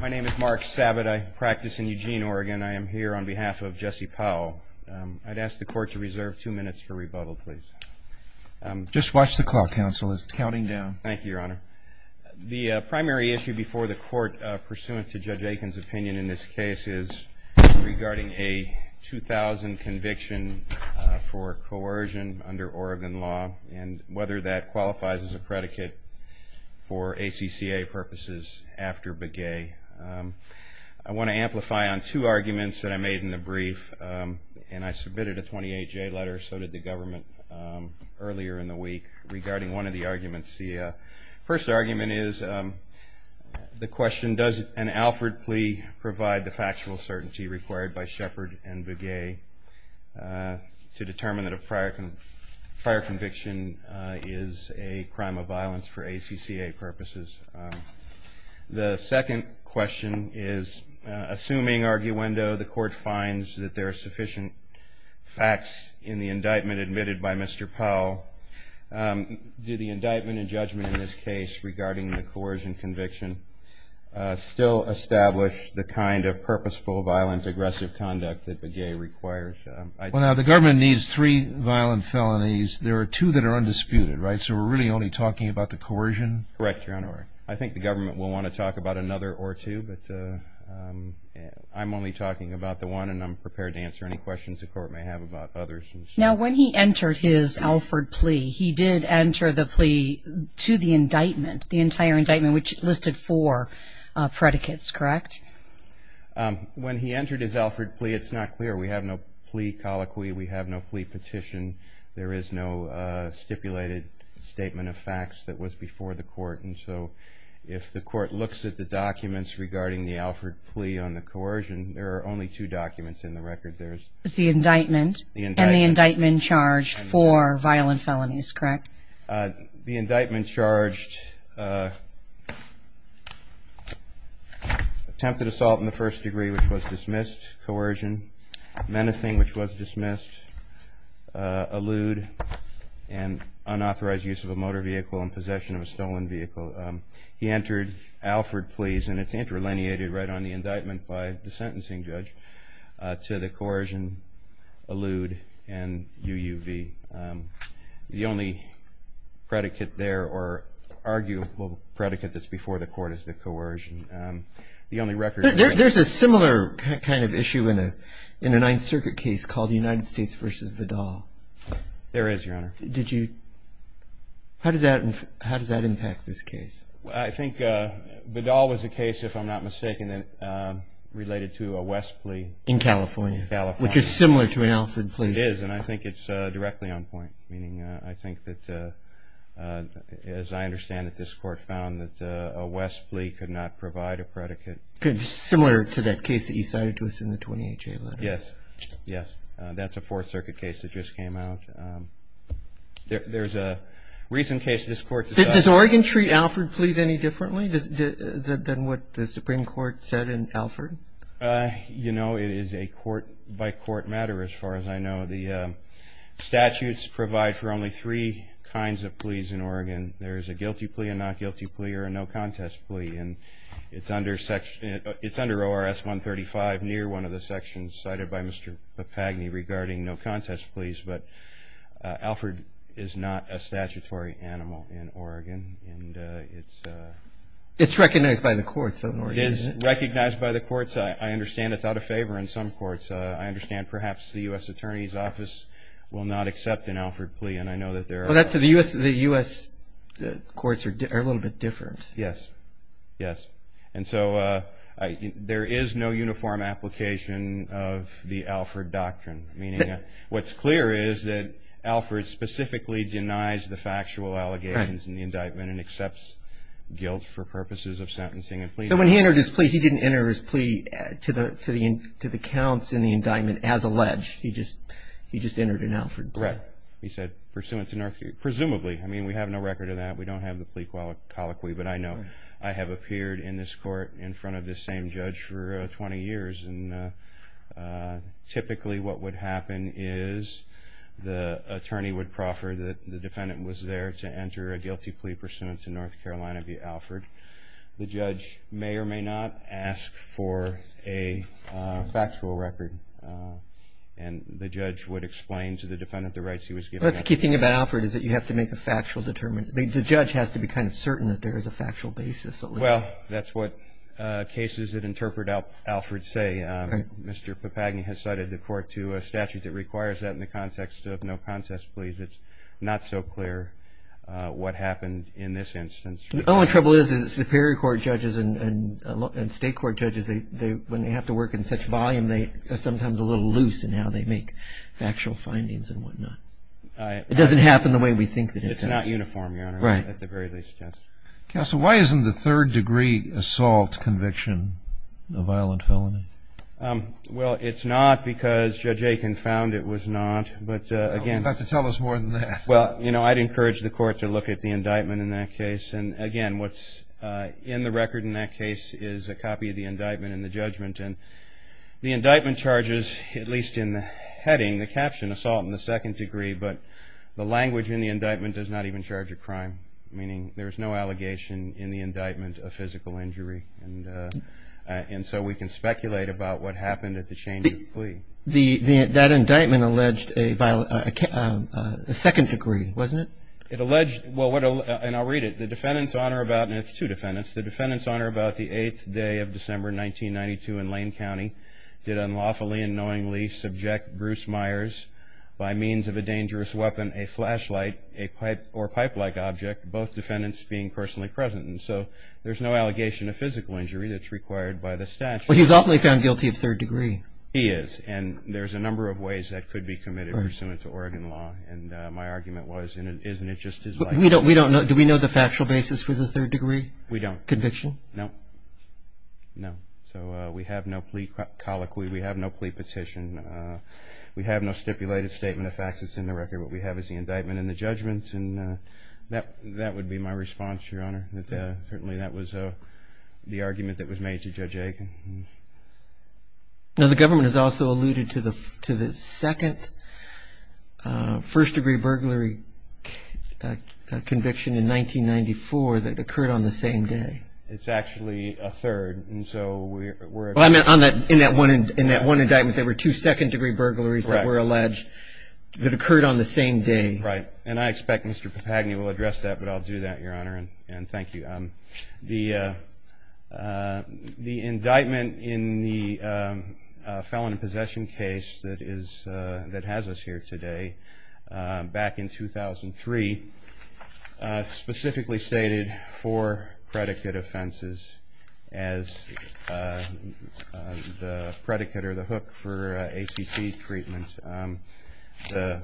My name is Mark Sabat. I practice in Eugene, Oregon. I am here on behalf of Jesse Powell. I'd ask the court to reserve two minutes for rebuttal, please. Just watch the clock, counsel. It's counting down. Thank you, Your Honor. The primary issue before the court pursuant to Judge Aiken's opinion in this case is regarding a 2000 conviction for coercion under Oregon law and whether that qualifies as a predicate for ACCA purposes after Begay. I want to amplify on two arguments that I made in the brief, and I submitted a 28-J letter, so did the government, earlier in the week regarding one of the arguments. The first argument is the question, does an Alford plea provide the factual certainty required by Shepard and Begay to determine that a prior conviction is a crime of violence for ACCA purposes? The second question is, assuming arguendo, the court finds that there are sufficient facts in the indictment admitted by Mr. Powell, do the indictment and judgment in this case regarding the coercion conviction still establish the kind of purposeful, violent, aggressive conduct that Begay requires? Well, now, the government needs three violent felonies. There are two that are undisputed, right? So we're really only talking about the coercion? Correct, Your Honor. I think the government will want to talk about another or two, but I'm only talking about the one, and I'm prepared to answer any questions the court may have about others. Now, when he entered his Alford plea, he did enter the plea to the indictment, the entire indictment, which listed four predicates, correct? When he entered his Alford plea, it's not clear. We have no plea colloquy. We have no plea petition. There is no stipulated statement of facts that was before the court, and so if the court looks at the documents regarding the Alford plea on the coercion, there are only two documents in the record. It's the indictment and the indictment charged for violent felonies, correct? The indictment charged attempted assault in the first degree, which was dismissed, coercion, menacing, which was dismissed, a lewd and unauthorized use of a motor vehicle and possession of a stolen vehicle. He entered Alford pleas, and it's interlineated right on the indictment by the sentencing judge to the coercion, a lewd, and UUV. The only predicate there or arguable predicate that's before the court is the coercion. There's a similar kind of issue in a Ninth Circuit case called United States v. Vidal. There is, Your Honor. How does that impact this case? I think Vidal was a case, if I'm not mistaken, related to a West plea. In California, which is similar to an Alford plea. It is, and I think it's directly on point, meaning I think that, as I understand it, this court found that a West plea could not provide a predicate. Similar to that case that you cited to us in the 20HA letter. Yes, yes. That's a Fourth Circuit case that just came out. There's a recent case this court decided. Does Oregon treat Alford pleas any differently than what the Supreme Court said in Alford? You know, it is a court-by-court matter, as far as I know. The statutes provide for only three kinds of pleas in Oregon. There's a guilty plea, a not guilty plea, or a no contest plea. It's under ORS 135, near one of the sections cited by Mr. Papagni regarding no contest pleas. But Alford is not a statutory animal in Oregon. It's recognized by the courts of Oregon, isn't it? It is recognized by the courts. I understand it's out of favor in some courts. I understand perhaps the U.S. Attorney's Office will not accept an Alford plea, and I know that there are... The U.S. courts are a little bit different. Yes, yes. And so there is no uniform application of the Alford doctrine. Meaning what's clear is that Alford specifically denies the factual allegations in the indictment and accepts guilt for purposes of sentencing a plea. So when he entered his plea, he didn't enter his plea to the counts in the indictment as alleged. He just entered an Alford plea. Correct. He said pursuant to Northgate. Presumably. I mean, we have no record of that. We don't have the plea colloquy, but I know. I have appeared in this court in front of this same judge for 20 years, and typically what would happen is the attorney would proffer that the defendant was there to enter a guilty plea pursuant to North Carolina v. Alford. The judge may or may not ask for a factual record, and the judge would explain to the defendant the rights he was given. Well, that's the key thing about Alford is that you have to make a factual determination. The judge has to be kind of certain that there is a factual basis at least. Well, that's what cases that interpret Alford say. Mr. Papagni has cited the court to a statute that requires that in the context of no contest pleas. It's not so clear what happened in this instance. The only trouble is that Superior Court judges and State Court judges, when they have to work in such volume, they are sometimes a little loose in how they make factual findings and whatnot. It doesn't happen the way we think that it does. It's not uniform, Your Honor, at the very least. Counsel, why isn't the third-degree assault conviction a violent felony? Well, it's not because Judge Aiken found it was not. You'll have to tell us more than that. Well, I'd encourage the court to look at the indictment in that case. Again, what's in the record in that case is a copy of the indictment and the judgment. And the indictment charges, at least in the heading, the caption assault in the second degree, but the language in the indictment does not even charge a crime, meaning there is no allegation in the indictment of physical injury. And so we can speculate about what happened at the change of plea. That indictment alleged a second degree, wasn't it? It alleged – and I'll read it. The defendants honor about – and it's two defendants. did unlawfully and knowingly subject Bruce Myers by means of a dangerous weapon, a flashlight, a pipe or pipe-like object, both defendants being personally present. And so there's no allegation of physical injury that's required by the statute. Well, he's often found guilty of third degree. He is, and there's a number of ways that could be committed pursuant to Oregon law. And my argument was, isn't it just his life? Do we know the factual basis for the third degree conviction? We don't. No. No. So we have no plea colloquy. We have no plea petition. We have no stipulated statement of facts that's in the record. What we have is the indictment and the judgments, and that would be my response, Your Honor. Certainly that was the argument that was made to Judge Aiken. Now the government has also alluded to the second first degree burglary conviction in 1994 that occurred on the same day. It's actually a third, and so we're at the same time. In that one indictment there were two second degree burglaries that were alleged that occurred on the same day. Right. And I expect Mr. Papagni will address that, but I'll do that, Your Honor, and thank you. The indictment in the felon in possession case that has us here today back in 2003 specifically stated four predicate offenses as the predicate or the hook for ACC treatment. The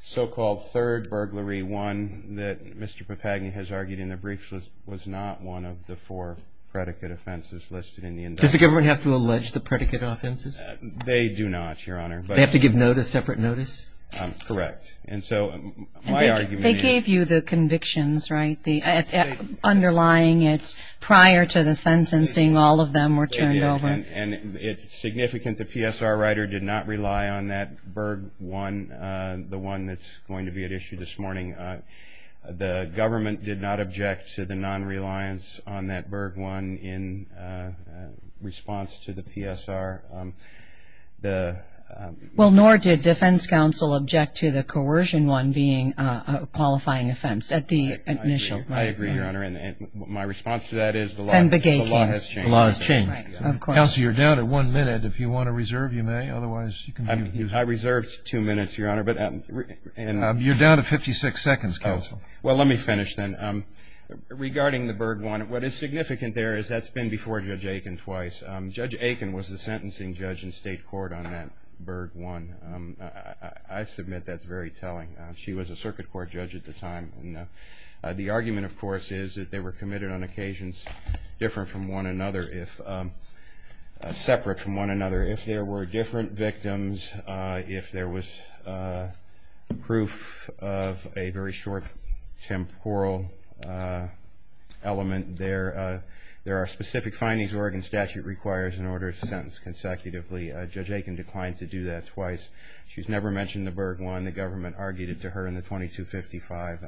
so-called third burglary, one that Mr. Papagni has argued in the briefs, was not one of the four predicate offenses listed in the indictment. Does the government have to allege the predicate offenses? They do not, Your Honor. They have to give notice, separate notice? Correct. They gave you the convictions, right? Underlying it's prior to the sentencing all of them were turned over. And it's significant the PSR writer did not rely on that burg one, the one that's going to be at issue this morning. The government did not object to the non-reliance on that burg one in response to the PSR. Well, nor did defense counsel object to the coercion one being a qualifying offense at the initial. I agree, Your Honor, and my response to that is the law has changed. The law has changed. Counsel, you're down to one minute. If you want to reserve, you may. Otherwise, you can continue. I reserved two minutes, Your Honor. You're down to 56 seconds, counsel. Well, let me finish then. Regarding the burg one, what is significant there is that's been before Judge Aiken twice. Judge Aiken was the sentencing judge in state court on that burg one. I submit that's very telling. She was a circuit court judge at the time. The argument, of course, is that they were committed on occasions different from one another, separate from one another. If there were different victims, if there was proof of a very short temporal element there, there are specific findings Oregon statute requires in order to sentence consecutively. Judge Aiken declined to do that twice. She's never mentioned the burg one. The government argued it to her in the 2255.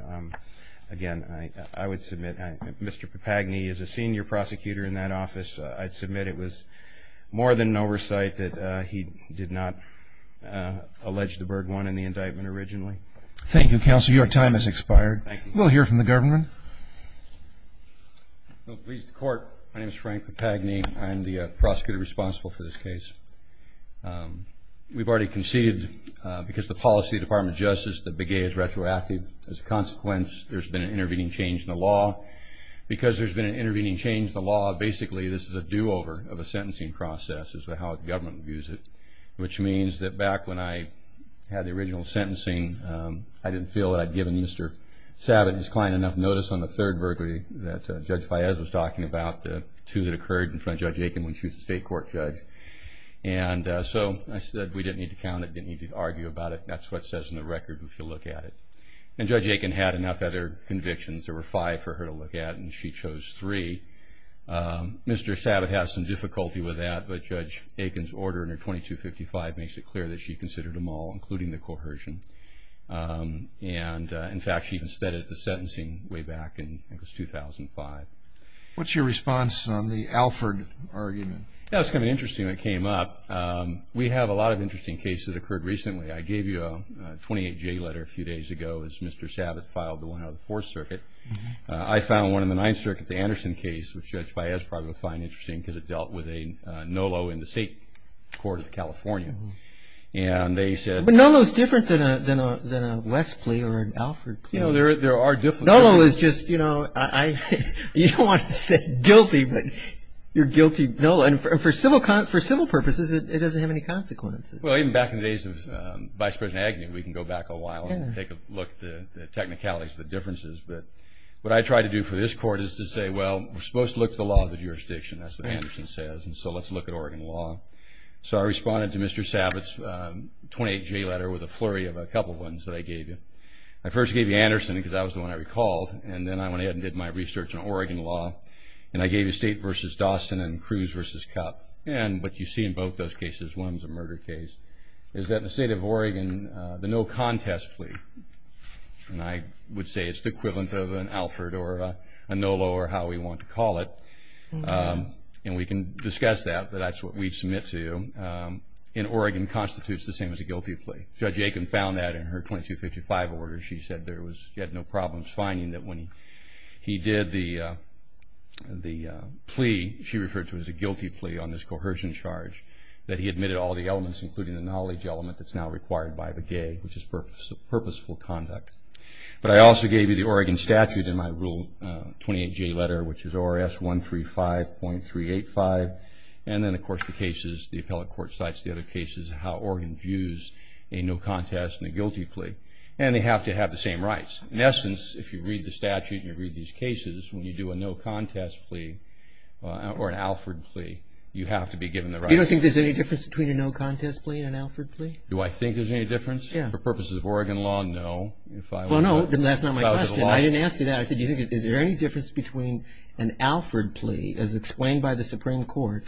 Again, I would submit Mr. Papagni is a senior prosecutor in that office. I'd submit it was more than an oversight that he did not allege the burg one in the indictment originally. Thank you, counsel. Your time has expired. We'll hear from the government. Please, the court. My name is Frank Papagni. I am the prosecutor responsible for this case. We've already conceded because the policy of the Department of Justice, the big A is retroactive. As a consequence, there's been an intervening change in the law. Because there's been an intervening change in the law, basically this is a do-over of a sentencing process as to how the government views it, which means that back when I had the original sentencing, I didn't feel that I'd given Mr. Savitt's client enough notice on the third burg that Judge Faez was talking about, the two that occurred in front of Judge Aiken when she was a state court judge. And so I said we didn't need to count it, didn't need to argue about it. That's what it says in the record if you look at it. And Judge Aiken had enough other convictions. There were five for her to look at, and she chose three. Mr. Savitt has some difficulty with that, but Judge Aiken's order in her 2255 makes it clear that she considered them all, including the coercion. And, in fact, she even steadied the sentencing way back in, I think it was 2005. What's your response on the Alford argument? That was kind of interesting when it came up. We have a lot of interesting cases that occurred recently. I gave you a 28-J letter a few days ago as Mr. Savitt filed the one out of the Fourth Circuit. I found one in the Ninth Circuit, the Anderson case, which Judge Faez probably would find interesting because it dealt with a NOLO in the state court of California. But NOLO's different than a West plea or an Alford plea. You know, there are differences. NOLO is just, you know, you don't want to say guilty, but you're guilty NOLO. And for civil purposes, it doesn't have any consequences. Well, even back in the days of Vice President Agnew, we can go back a while and take a look at the technicalities of the differences. But what I try to do for this court is to say, well, we're supposed to look at the law of the jurisdiction, that's what Anderson says, and so let's look at Oregon law. So I responded to Mr. Savitt's 28-J letter with a flurry of a couple ones that I gave you. I first gave you Anderson because that was the one I recalled, and then I went ahead and did my research on Oregon law, and I gave you State v. Dawson and Cruz v. Cup. And what you see in both those cases, one was a murder case, is that the State of Oregon, the no contest plea, and I would say it's the equivalent of an Alford or a NOLO or how we want to call it, and we can discuss that, but that's what we submit to you, in Oregon constitutes the same as a guilty plea. Judge Aiken found that in her 2255 order. She said there was no problems finding that when he did the plea, she referred to it as a guilty plea on this coercion charge, that he admitted all the elements, including the knowledge element that's now required by the gay, which is purposeful conduct. But I also gave you the Oregon statute in my Rule 28-J letter, which is ORS 135.385, and then, of course, the cases, the appellate court cites the other cases, how Oregon views a no contest and a guilty plea, and they have to have the same rights. In essence, if you read the statute and you read these cases, when you do a no contest plea or an Alford plea, you have to be given the rights. You don't think there's any difference between a no contest plea and an Alford plea? Do I think there's any difference? Yeah. For purposes of Oregon law, no. Well, no, that's not my question. I didn't ask you that. I said, is there any difference between an Alford plea, as explained by the Supreme Court,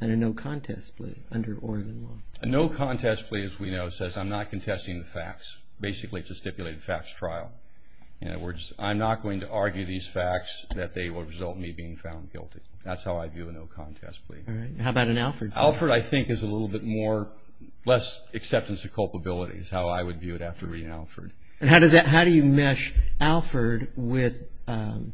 and a no contest plea under Oregon law? A no contest plea, as we know, says I'm not contesting the facts. Basically, it's a stipulated facts trial. In other words, I'm not going to argue these facts that they will result in me being found guilty. That's how I view a no contest plea. All right. How about an Alford plea? Alford, I think, is a little bit more less acceptance of culpability is how I would view it after reading Alford. And how do you mesh Alford with, you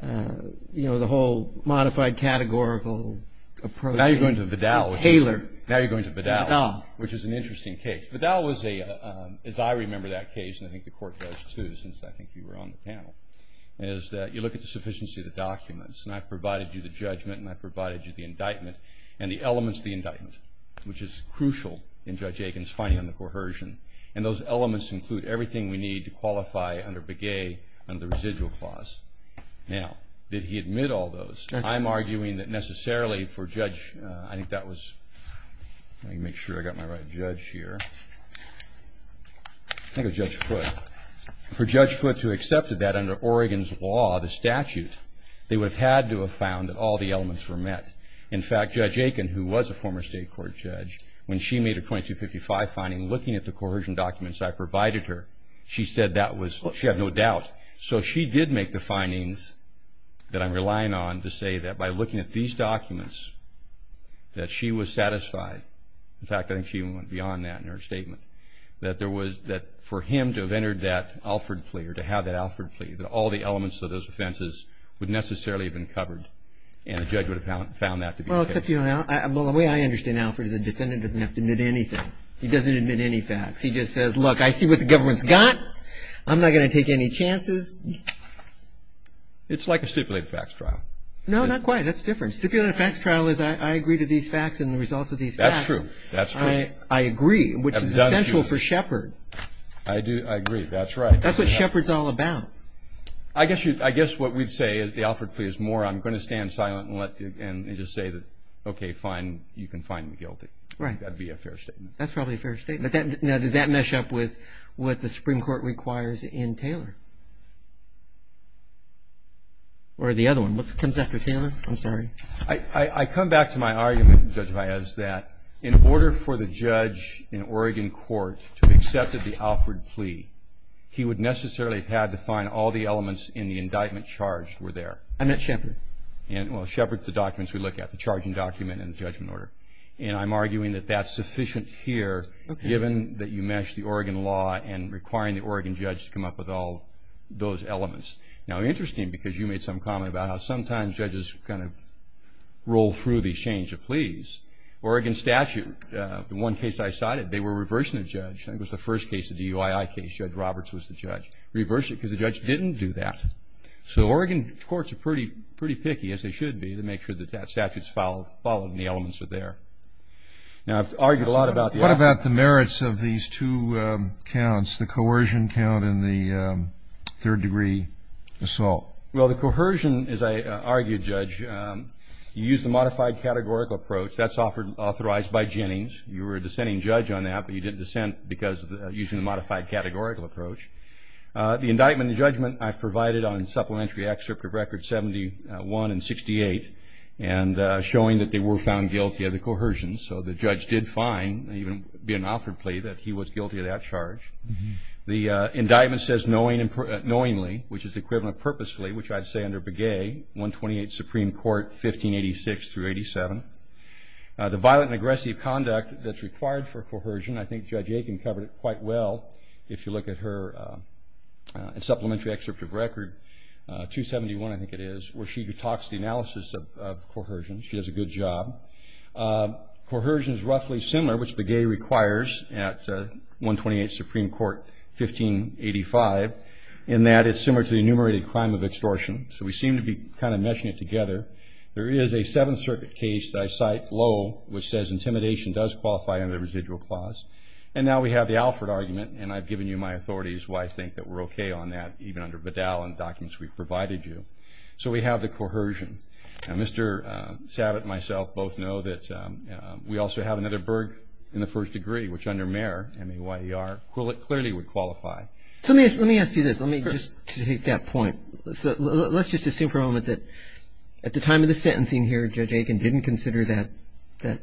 know, the whole modified categorical approach? Now you're going to Vidal. Taylor. Now you're going to Vidal. Vidal. Which is an interesting case. Vidal was a, as I remember that case, and I think the Court does, too, since I think you were on the panel, is that you look at the sufficiency of the documents. And I've provided you the judgment and I've provided you the indictment and the elements of the indictment, which is crucial in Judge Aiken's finding on the coercion. And those elements include everything we need to qualify under Begay and the residual clause. Now, did he admit all those? I'm arguing that necessarily for Judge, I think that was, let me make sure I got my right judge here. I think it was Judge Foote. For Judge Foote to have accepted that under Oregon's law, the statute, they would have had to have found that all the elements were met. In fact, Judge Aiken, who was a former state court judge, when she made a 2255 finding looking at the coercion documents I provided her, she said that was, she had no doubt. So she did make the findings that I'm relying on to say that by looking at these documents, that she was satisfied. In fact, I think she went beyond that in her statement. That there was, that for him to have entered that Alford plea or to have that Alford plea, that all the elements of those offenses would necessarily have been covered. And the judge would have found that to be the case. Well, except, you know, the way I understand Alford is a defendant doesn't have to admit anything. He doesn't admit any facts. He just says, look, I see what the government's got. I'm not going to take any chances. It's like a stipulated facts trial. No, not quite. That's different. Stipulated facts trial is I agree to these facts and the results of these facts. That's true. That's true. I agree, which is essential for Shepard. I do. I agree. That's right. That's what Shepard's all about. I guess you, I guess what we'd say is the Alford plea is more I'm going to stand silent and let you, and just say that, okay, fine, you can find me guilty. Right. That'd be a fair statement. That's probably a fair statement. Now, does that mesh up with what the Supreme Court requires in Taylor? Or the other one? What comes after Taylor? I'm sorry. I come back to my argument, Judge Valles, that in order for the judge in Oregon court to have accepted the Alford plea, he would necessarily have had to find all the elements in the indictment charged were there. I meant Shepard. Well, Shepard's the documents we look at, the charging document and the judgment order. And I'm arguing that that's sufficient here, given that you meshed the Oregon law and requiring the Oregon judge to come up with all those elements. Now, interesting, because you made some comment about how sometimes judges kind of roll through the change of pleas. Oregon statute, the one case I cited, they were reversing the judge. I think it was the first case, the DUII case. Judge Roberts was the judge. Reverse it because the judge didn't do that. So Oregon courts are pretty picky, as they should be, to make sure that that statute's followed and the elements are there. Now, I've argued a lot about the Alford plea. What about the merits of these two counts, the coercion count and the third-degree assault? Well, the coercion, as I argued, Judge, you used the modified categorical approach. That's authorized by Jennings. You were a dissenting judge on that, but you didn't dissent because of using the modified categorical approach. The indictment and judgment I've provided on supplementary excerpt of Record 71 and 68 and showing that they were found guilty of the coercion. So the judge did find, even in the Alford plea, that he was guilty of that charge. The indictment says knowingly, which is the equivalent of purposefully, which I'd say under Begay, 128 Supreme Court, 1586 through 87. The violent and aggressive conduct that's required for coercion, I think Judge Aiken covered it quite well, if you look at her supplementary excerpt of Record 271, I think it is, where she talks the analysis of coercion. She does a good job. Coercion is roughly similar, which Begay requires at 128 Supreme Court, 1585, in that it's similar to the enumerated crime of extortion. So we seem to be kind of meshing it together. There is a Seventh Circuit case that I cite low, which says intimidation does qualify under the residual clause. And now we have the Alford argument, and I've given you my authorities, why I think that we're okay on that, even under Bedell and documents we've provided you. So we have the coercion. Mr. Sabat and myself both know that we also have another burg in the first degree, which under Mayer, M-A-Y-E-R, clearly would qualify. So let me ask you this. Let me just take that point. Let's just assume for a moment that at the time of the sentencing here, Judge Aiken didn't consider that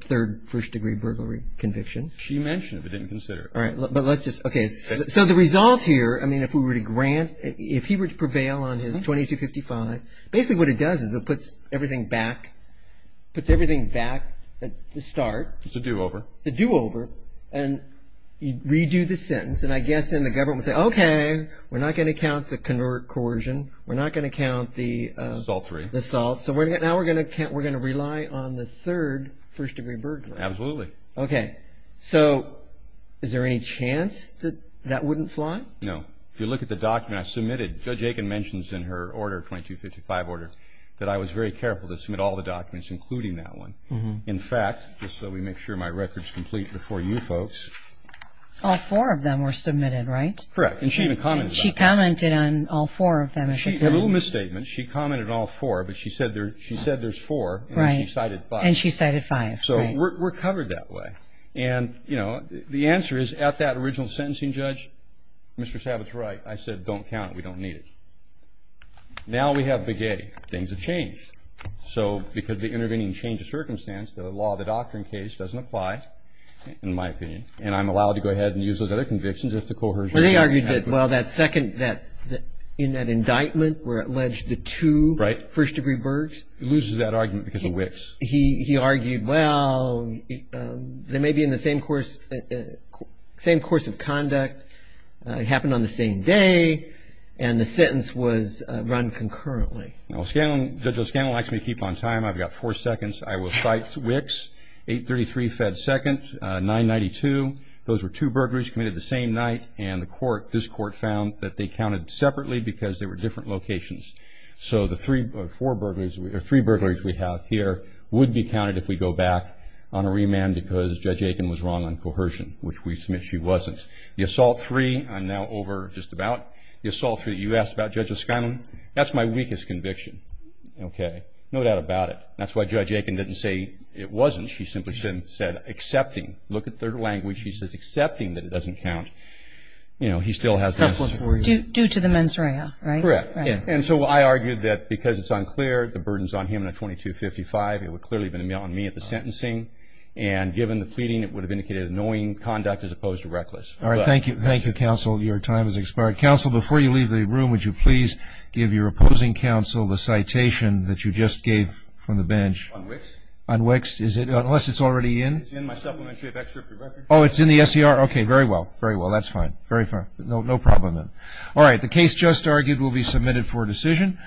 third first degree burglary conviction. She mentioned it, but didn't consider it. All right. But let's just, okay. So the result here, I mean, if we were to grant, if he were to prevail on his 2255, basically what it does is it puts everything back at the start. It's a do-over. It's a do-over. And you redo the sentence, and I guess then the government would say, okay, we're not going to count the coercion. We're not going to count the assault. So now we're going to rely on the third first degree burglary. Absolutely. Okay. So is there any chance that that wouldn't fly? No. If you look at the document I submitted, Judge Aiken mentions in her order, 2255 order, that I was very careful to submit all the documents including that one. In fact, just so we make sure my record's complete before you folks. All four of them were submitted, right? Correct. And she even commented on them. She commented on all four of them. A little misstatement. She commented on all four, but she said there's four, and then she cited five. And she cited five. So we're covered that way. And, you know, the answer is at that original sentencing, Judge, Mr. Sabat's right. I said don't count. We don't need it. Now we have baguette. Things have changed. So because of the intervening change of circumstance, the law, the doctrine case, doesn't apply, in my opinion. And I'm allowed to go ahead and use those other convictions as the coercion. Well, they argued that, well, that second, in that indictment, where it alleged the two first degree burglars. He loses that argument because of Wicks. He argued, well, they may be in the same course of conduct. It happened on the same day, and the sentence was run concurrently. Judge O'Scanlan likes me to keep on time. I've got four seconds. I will cite Wicks, 833 Fed Second, 992. Those were two burglaries committed the same night, and this court found that they counted separately because they were different locations. So the three burglaries we have here would be counted if we go back on a remand because Judge Aiken was wrong on coercion, which we submit she wasn't. The assault three, I'm now over just about. The assault three that you asked about, Judge O'Scanlan, that's my weakest conviction. Okay. No doubt about it. That's why Judge Aiken didn't say it wasn't. She simply said accepting. Look at third language. She says accepting that it doesn't count. You know, he still has this. Due to the mens rea, right? Correct. And so I argued that because it's unclear, the burden's on him in a 2255. It would clearly have been on me at the sentencing. And given the pleading, it would have indicated annoying conduct as opposed to reckless. All right. Thank you. Thank you, counsel. Your time has expired. Counsel, before you leave the room, would you please give your opposing counsel the citation that you just gave from the bench? On Wicks? On Wicks. Is it? Unless it's already in. It's in my supplementary. I've extracted records. Oh, it's in the SCR. Okay. Very well. Very well. That's fine. Very fine. No problem then. All right.